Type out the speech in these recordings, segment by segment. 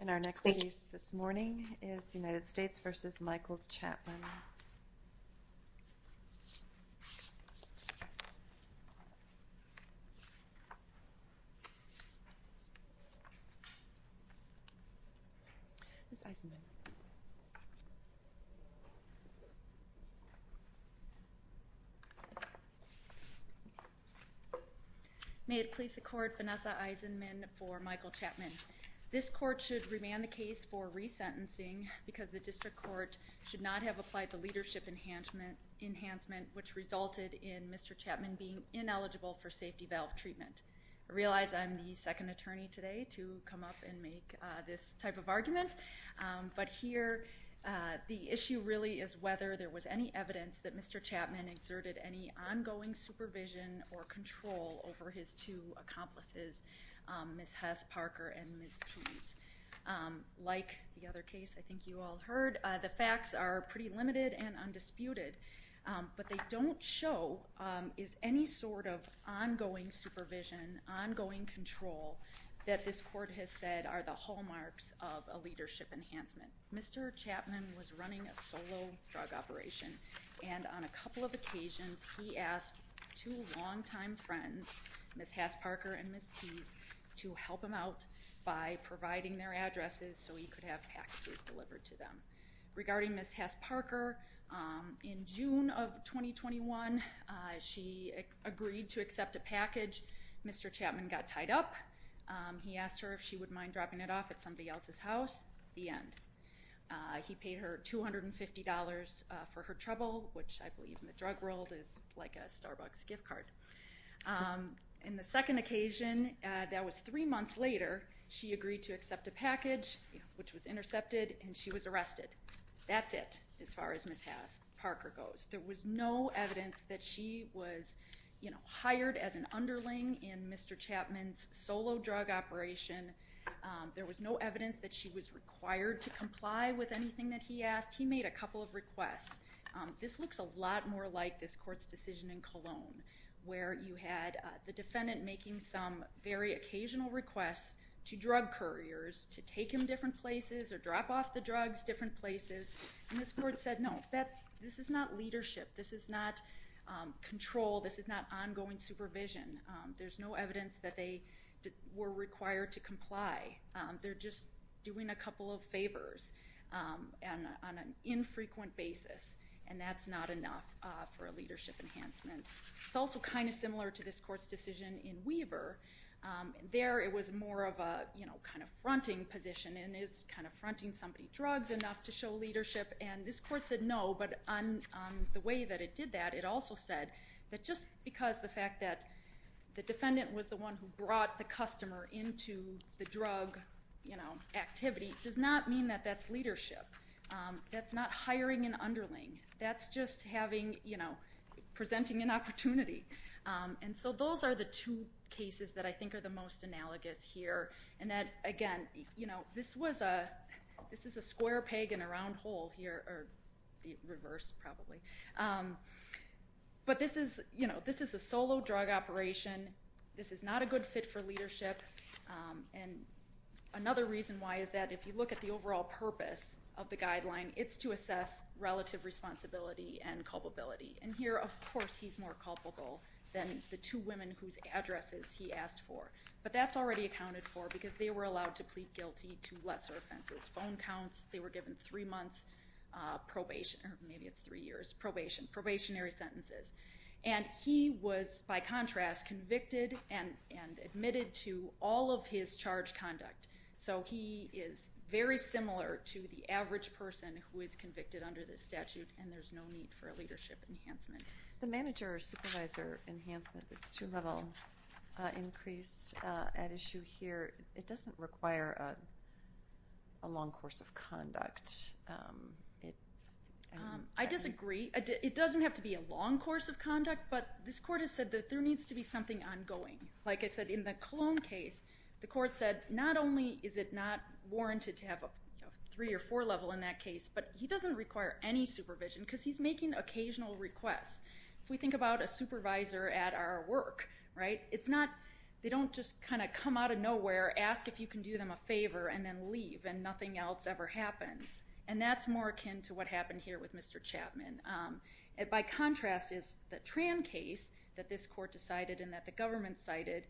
And our next piece this morning is United States v. Michael Chapman. May it please the court, Vanessa Eisenman for Michael Chapman. This court should remand the case for resentencing because the district court should not have applied the leadership enhancement which resulted in Mr. Chapman being ineligible for safety valve treatment. I realize I'm the second attorney today to come up and make this type of argument, but here the issue really is whether there was any evidence that Mr. Chapman exerted any ongoing supervision or control over his two accomplices, Ms. Hess-Parker and Ms. Tease. Like the other case I think you all heard, the facts are pretty limited and undisputed, but they don't show is any sort of ongoing supervision, ongoing control that this court has said are the hallmarks of a leadership enhancement. Mr. Chapman was running a solo drug operation and on a couple of occasions he asked two so he could have packages delivered to them. Regarding Ms. Hess-Parker, in June of 2021 she agreed to accept a package. Mr. Chapman got tied up. He asked her if she would mind dropping it off at somebody else's house, the end. He paid her $250 for her trouble, which I believe in the drug world is like a Starbucks gift card. On the second occasion, that was three months later, she agreed to accept a package, which was intercepted and she was arrested. That's it as far as Ms. Hess-Parker goes. There was no evidence that she was hired as an underling in Mr. Chapman's solo drug operation. There was no evidence that she was required to comply with anything that he asked. He made a couple of requests. This looks a lot more like this court's decision in Cologne where you had the defendant making some very occasional requests to drug couriers to take him different places or drop off the drugs different places and this court said no, this is not leadership, this is not control, this is not ongoing supervision. There's no evidence that they were required to comply. They're just doing a couple of favors on an infrequent basis and that's not enough for a leadership enhancement. It's also kind of similar to this court's decision in Weaver. There it was more of a kind of fronting position and it's kind of fronting somebody drugs enough to show leadership and this court said no, but on the way that it did that, it also said that just because the fact that the defendant was the one who brought the customer into the drug activity does not mean that that's leadership. That's not hiring an underling. That's just presenting an opportunity. And so those are the two cases that I think are the most analogous here and that again, this is a square peg in a round hole here, or the reverse probably. But this is a solo drug operation. This is not a good fit for leadership and another reason why is that if you look at the overall purpose of the guideline, it's to assess relative responsibility and culpability. And here, of course, he's more culpable than the two women whose addresses he asked for. But that's already accounted for because they were allowed to plead guilty to lesser offenses. Phone counts, they were given three months probation, or maybe it's three years, probation, probationary sentences. And he was, by contrast, convicted and admitted to all of his charge conduct. So he is very similar to the average person who is convicted under this statute and there's no need for a leadership enhancement. The manager-supervisor enhancement, this two-level increase at issue here, it doesn't require a long course of conduct. I disagree. It doesn't have to be a long course of conduct, but this court has said that there needs to be something ongoing. Like I said, in the Cologne case, the court said not only is it not warranted to have a three or four level in that case, but he doesn't require any supervision because he's making occasional requests. If we think about a supervisor at our work, right, it's not, they don't just kind of come out of nowhere, ask if you can do them a favor, and then leave and nothing else ever happens. And that's more akin to what happened here with Mr. Chapman. By contrast is the Tran case that this court decided and that the government cited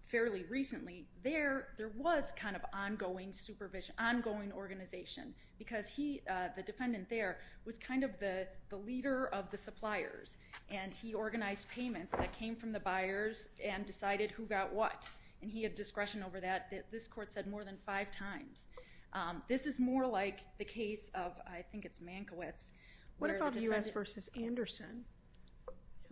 fairly recently. There, there was kind of ongoing supervision, ongoing organization because he, the defendant there, was kind of the leader of the suppliers and he organized payments that came from the buyers and decided who got what and he had discretion over that. This court said more than five times. This is more like the case of, I think it's Mankiewicz. What about U.S. v. Anderson,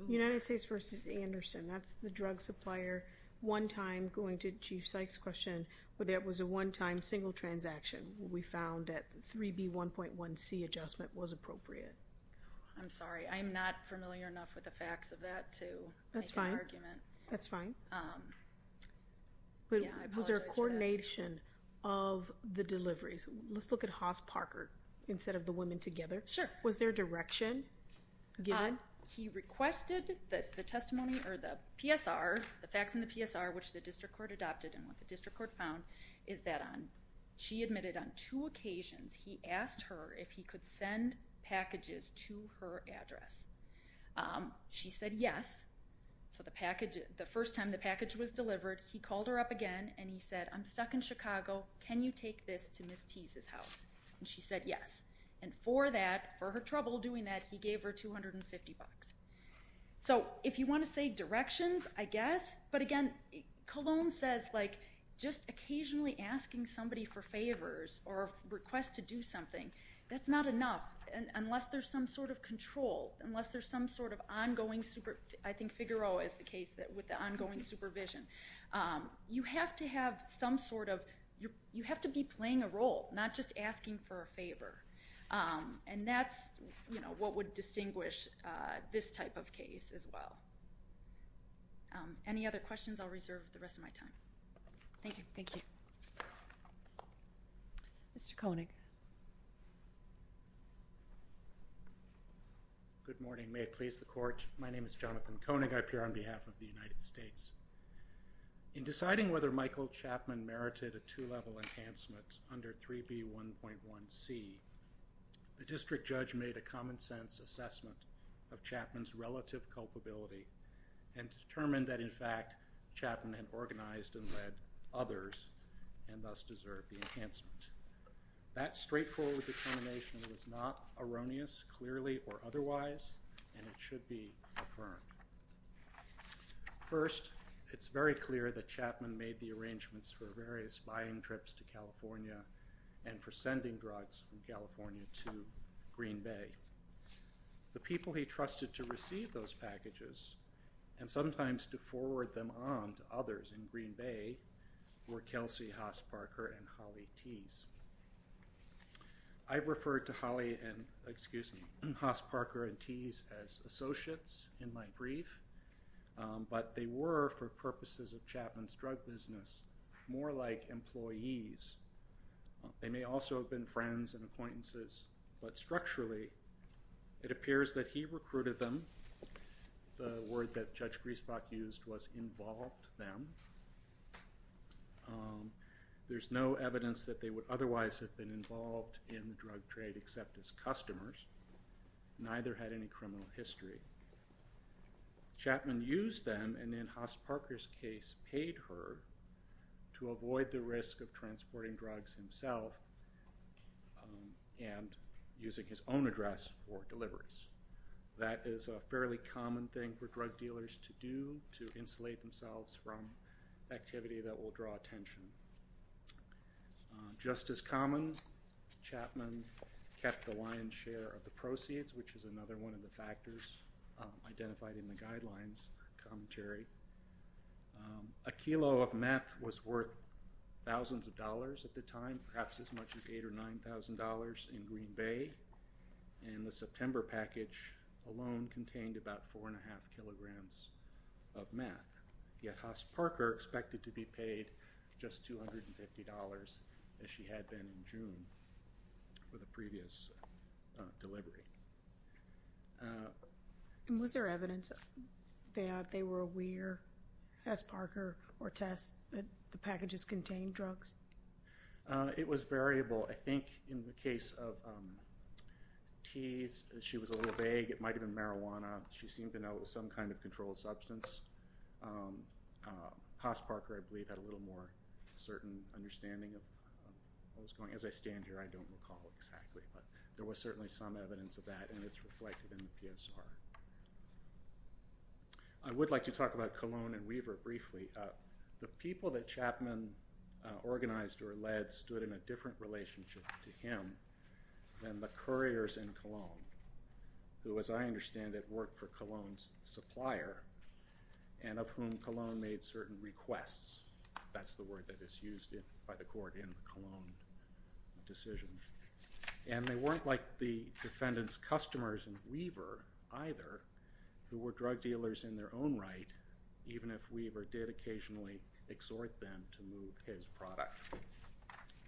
United States v. Anderson, that's the drug supplier one time going to Chief Sykes' question where there was a one-time single transaction. We found that the 3B1.1C adjustment was appropriate. I'm sorry. I'm not familiar enough with the facts of that to make an argument. That's fine. That's fine. Yeah, I apologize for that. But was there a coordination of the deliveries? Let's look at Haas-Parker instead of the women together. Sure. Was there direction given? He requested that the testimony or the PSR, the facts in the PSR which the district court adopted and what the district court found is that on, she admitted on two occasions he asked her if he could send packages to her address. She said yes. So the package, the first time the package was delivered, he called her up again and he said, I'm stuck in Chicago. Can you take this to Ms. Tease's house? She said yes. And for that, for her trouble doing that, he gave her $250. So if you want to say directions, I guess, but again, Cologne says like just occasionally asking somebody for favors or requests to do something, that's not enough unless there's some sort of control, unless there's some sort of ongoing, I think Figueroa is the case that with the ongoing supervision. You have to have some sort of, you have to be playing a role, not just asking for a favor. And that's what would distinguish this type of case as well. Any other questions? I'll reserve the rest of my time. Thank you. Thank you. Mr. Koenig. Good morning. May it please the Court. My name is Jonathan Koenig. I appear on behalf of the United States. In deciding whether Michael Chapman merited a two-level enhancement under 3B1.1c, the district judge made a common-sense assessment of Chapman's relative culpability and determined that, in fact, Chapman had organized and led others and thus deserved the enhancement. That straightforward determination was not erroneous, clearly, or otherwise, and it should be affirmed. First, it's very clear that Chapman made the arrangements for various flying trips to California and for sending drugs from California to Green Bay. The people he trusted to receive those packages and sometimes to forward them on to others in Green Bay were Kelsey Haas-Parker and Holly Teese. I referred to Holly and, excuse me, Haas-Parker and Teese as associates in my brief, but they were, for purposes of Chapman's drug business, more like employees. They may also have been friends and acquaintances, but structurally, it appears that he recruited them. The word that Judge Griesbach used was, involved them. There's no evidence that they would otherwise have been involved in the drug trade except as customers. Neither had any criminal history. Chapman used them and, in Haas-Parker's case, paid her to avoid the risk of transporting drugs himself and using his own address for deliveries. That is a fairly common thing for drug dealers to do, to insulate themselves from activity that will draw attention. Just as common, Chapman kept the lion's share of the proceeds, which is another one of the factors identified in the guidelines commentary. A kilo of meth was worth thousands of dollars at the time, perhaps as much as $8,000 or $9,000 in Green Bay. And the September package alone contained about four and a half kilograms of meth. Yet, Haas-Parker expected to be paid just $250, as she had been in June for the previous delivery. Was there evidence that they were aware, Haas-Parker or Tess, that the packages contained drugs? It was variable. I think in the case of Tess, she was a little vague. It might have been marijuana. She seemed to know it was some kind of controlled substance. Haas-Parker, I believe, had a little more certain understanding of what was going on. As I stand here, I don't recall exactly, but there was certainly some evidence of that, and it's reflected in the PSR. I would like to talk about Cologne and Weaver briefly. The people that Chapman organized or led stood in a different relationship to him than the couriers in Cologne, who, as I understand it, worked for Cologne's supplier, and of whom Cologne made certain requests. That's the word that is used by the court in the Cologne decision. And they weren't like the defendant's customers in Weaver, either, who were drug dealers in their own right, even if Weaver did occasionally exhort them to move his product.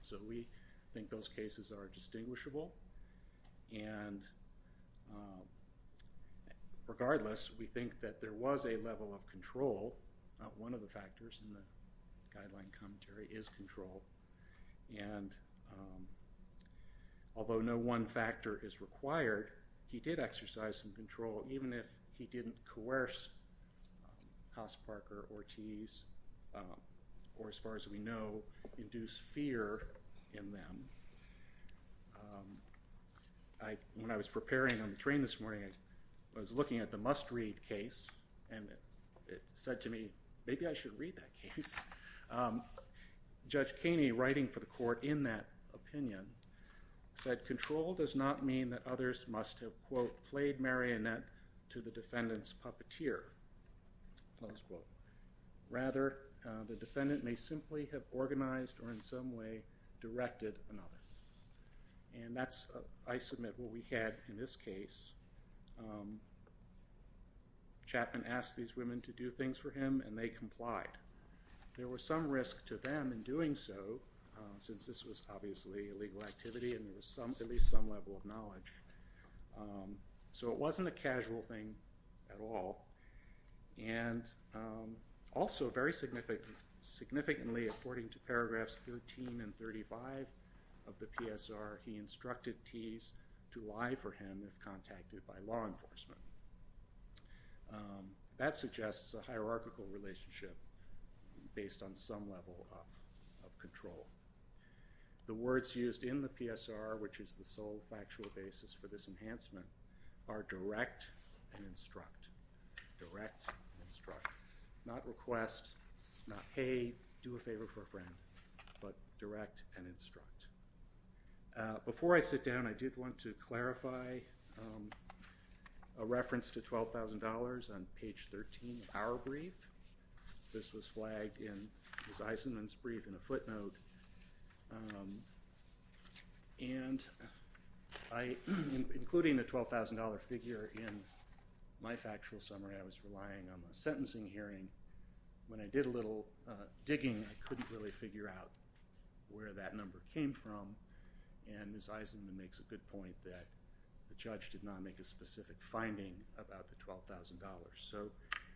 So we think those cases are distinguishable. And regardless, we think that there was a level of control. Not one of the factors in the guideline commentary is control. And although no one factor is required, he did exercise some control, even if he didn't coerce Haas, Parker, Ortiz, or as far as we know, induce fear in them. When I was preparing on the train this morning, I was looking at the must-read case, and it said to me, maybe I should read that case. Judge Kaney, writing for the court in that opinion, said control does not mean that others must have, quote, played marionette to the defendant's puppeteer, close quote. Rather, the defendant may simply have organized or in some way directed another. And that's, I submit, what we had in this case. Chapman asked these women to do things for him, and they complied. There was some risk to them in doing so, since this was obviously a legal activity and there was at least some level of knowledge. So it wasn't a casual thing at all. And also very significantly, according to paragraphs 13 and 35 of the PSR, he instructed Ts to lie for him if contacted by law enforcement. That suggests a hierarchical relationship based on some level of control. The words used in the PSR, which is the sole factual basis for this enhancement, are direct and instruct, direct and instruct. Not request, not hey, do a favor for a friend, but direct and instruct. Before I sit down, I did want to clarify a reference to $12,000 on page 13 of our brief. This was flagged in Ms. Eisenman's brief in a footnote. And including the $12,000 figure in my factual summary, I was relying on my sentencing hearing. When I did a little digging, I couldn't really figure out where that number came from. And Ms. Eisenman makes a good point that the judge did not make a specific finding about the $12,000. So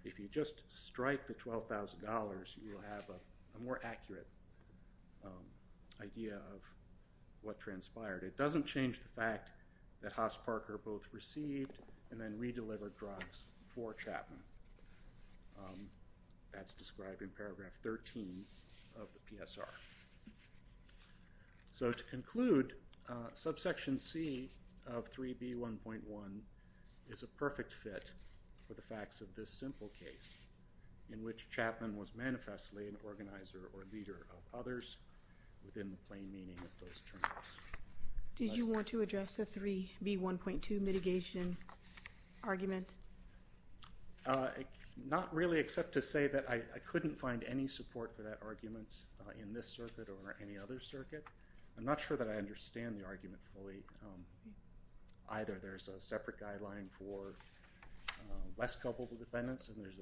if you just strike the $12,000, you will have a more accurate idea of what transpired. It doesn't change the fact that Haas-Parker both received and then redelivered drugs for Chapman. That's described in paragraph 13 of the PSR. So to conclude, subsection C of 3B1.1 is a perfect fit for the facts of this simple case in which Chapman was manifestly an organizer or leader of others within the plain meaning of those terms. Did you want to address the 3B1.2 mitigation argument? Not really except to say that I couldn't find any support for that argument in this circuit or any other circuit. I'm not sure that I understand the argument fully. Either there's a separate guideline for less culpable defendants and there's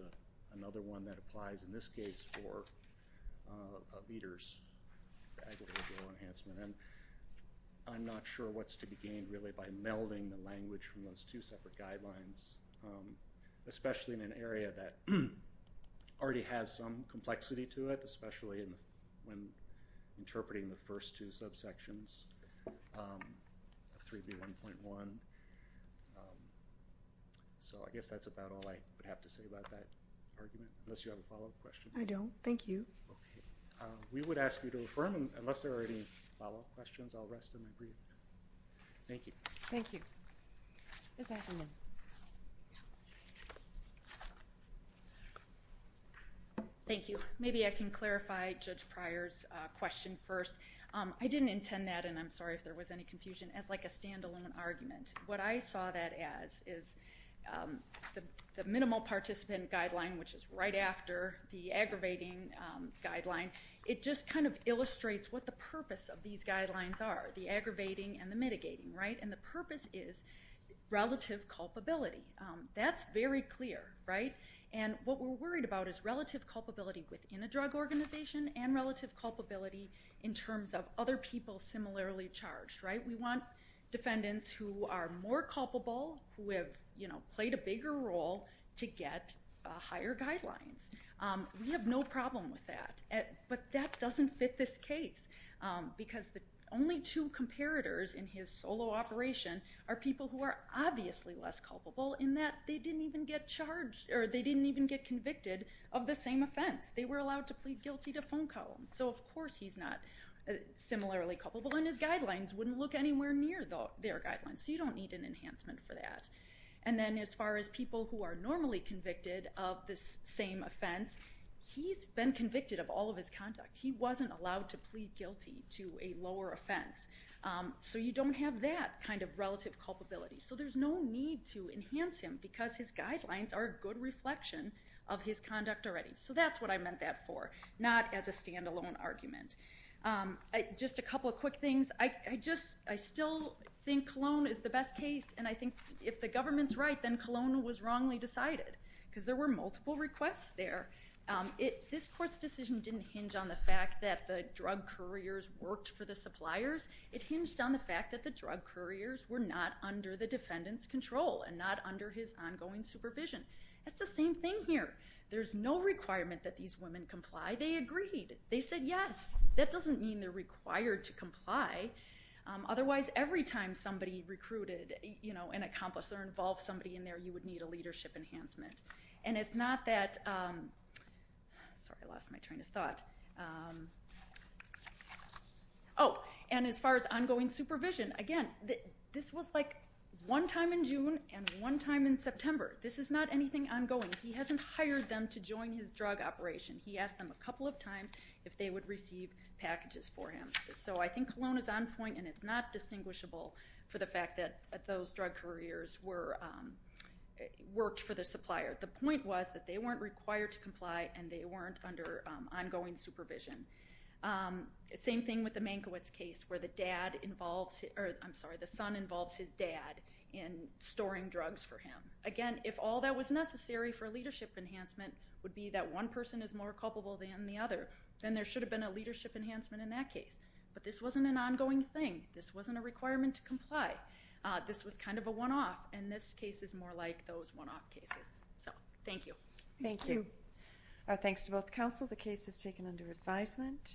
another one that applies in this case for leaders. I'm not sure what's to be gained really by melding the language from those two separate guidelines, especially in an area that already has some complexity to it, especially when interpreting the first two subsections of 3B1.1. So I guess that's about all I would have to say about that argument, unless you have a follow-up question. I don't. Thank you. We would ask you to affirm, unless there are any follow-up questions, I'll rest and then brief. Thank you. Thank you. Ms. Eisenman. Thank you. Maybe I can clarify Judge Pryor's question first. I didn't intend that, and I'm sorry if there was any confusion, as like a standalone argument. What I saw that as is the minimal participant guideline, which is right after the aggravating guideline, it just kind of illustrates what the purpose of these guidelines are, the aggravating and the mitigating, right? And the purpose is relative culpability. That's very clear, right? And what we're worried about is relative culpability within a drug organization and relative culpability in terms of other people similarly charged, right? We want defendants who are more culpable, who have played a bigger role, to get higher guidelines. We have no problem with that. But that doesn't fit this case, because the only two comparators in his solo operation are people who are obviously less culpable in that they didn't even get charged, or they didn't even get convicted of the same offense. They were allowed to plead guilty to phone call. So of course he's not similarly culpable, and his guidelines wouldn't look anywhere near their guidelines. So you don't need an enhancement for that. And then as far as people who are normally convicted of this same offense, he's been convicted of all of his conduct. He wasn't allowed to plead guilty to a lower offense. So you don't have that kind of relative culpability. So there's no need to enhance him, because his guidelines are a good reflection of his conduct already. So that's what I meant that for, not as a standalone argument. Just a couple of quick things. I still think Cologne is the best case. And I think if the government's right, then Cologne was wrongly decided, because there were multiple requests there. This court's decision didn't hinge on the fact that the drug couriers worked for the suppliers. It hinged on the fact that the drug couriers were not under the defendant's control, and not under his ongoing supervision. That's the same thing here. There's no requirement that these women comply. They agreed. They said yes. That doesn't mean they're required to comply. Otherwise, every time somebody recruited an accomplice or involved somebody in there, you would need a leadership enhancement. And it's not that... Sorry, I lost my train of thought. Oh, and as far as ongoing supervision, again, this was like one time in June and one time in September. This is not anything ongoing. He hasn't hired them to join his drug operation. He asked them a couple of times if they would receive packages for him. So I think Cologne is on point, and it's not distinguishable for the fact that those drug couriers worked for the supplier. The point was that they weren't required to comply, and they weren't under ongoing supervision. Same thing with the Mankiewicz case, where the son involves his dad in storing drugs for him. Again, if all that was necessary for leadership enhancement would be that one person is more culpable than the other, then there should have been a leadership enhancement in that case. But this wasn't an ongoing thing. This wasn't a requirement to comply. This was kind of a one-off, and this case is more like those one-off cases. So, thank you. Thank you. Thank you. Thanks to both counsel. The case is taken under advisement.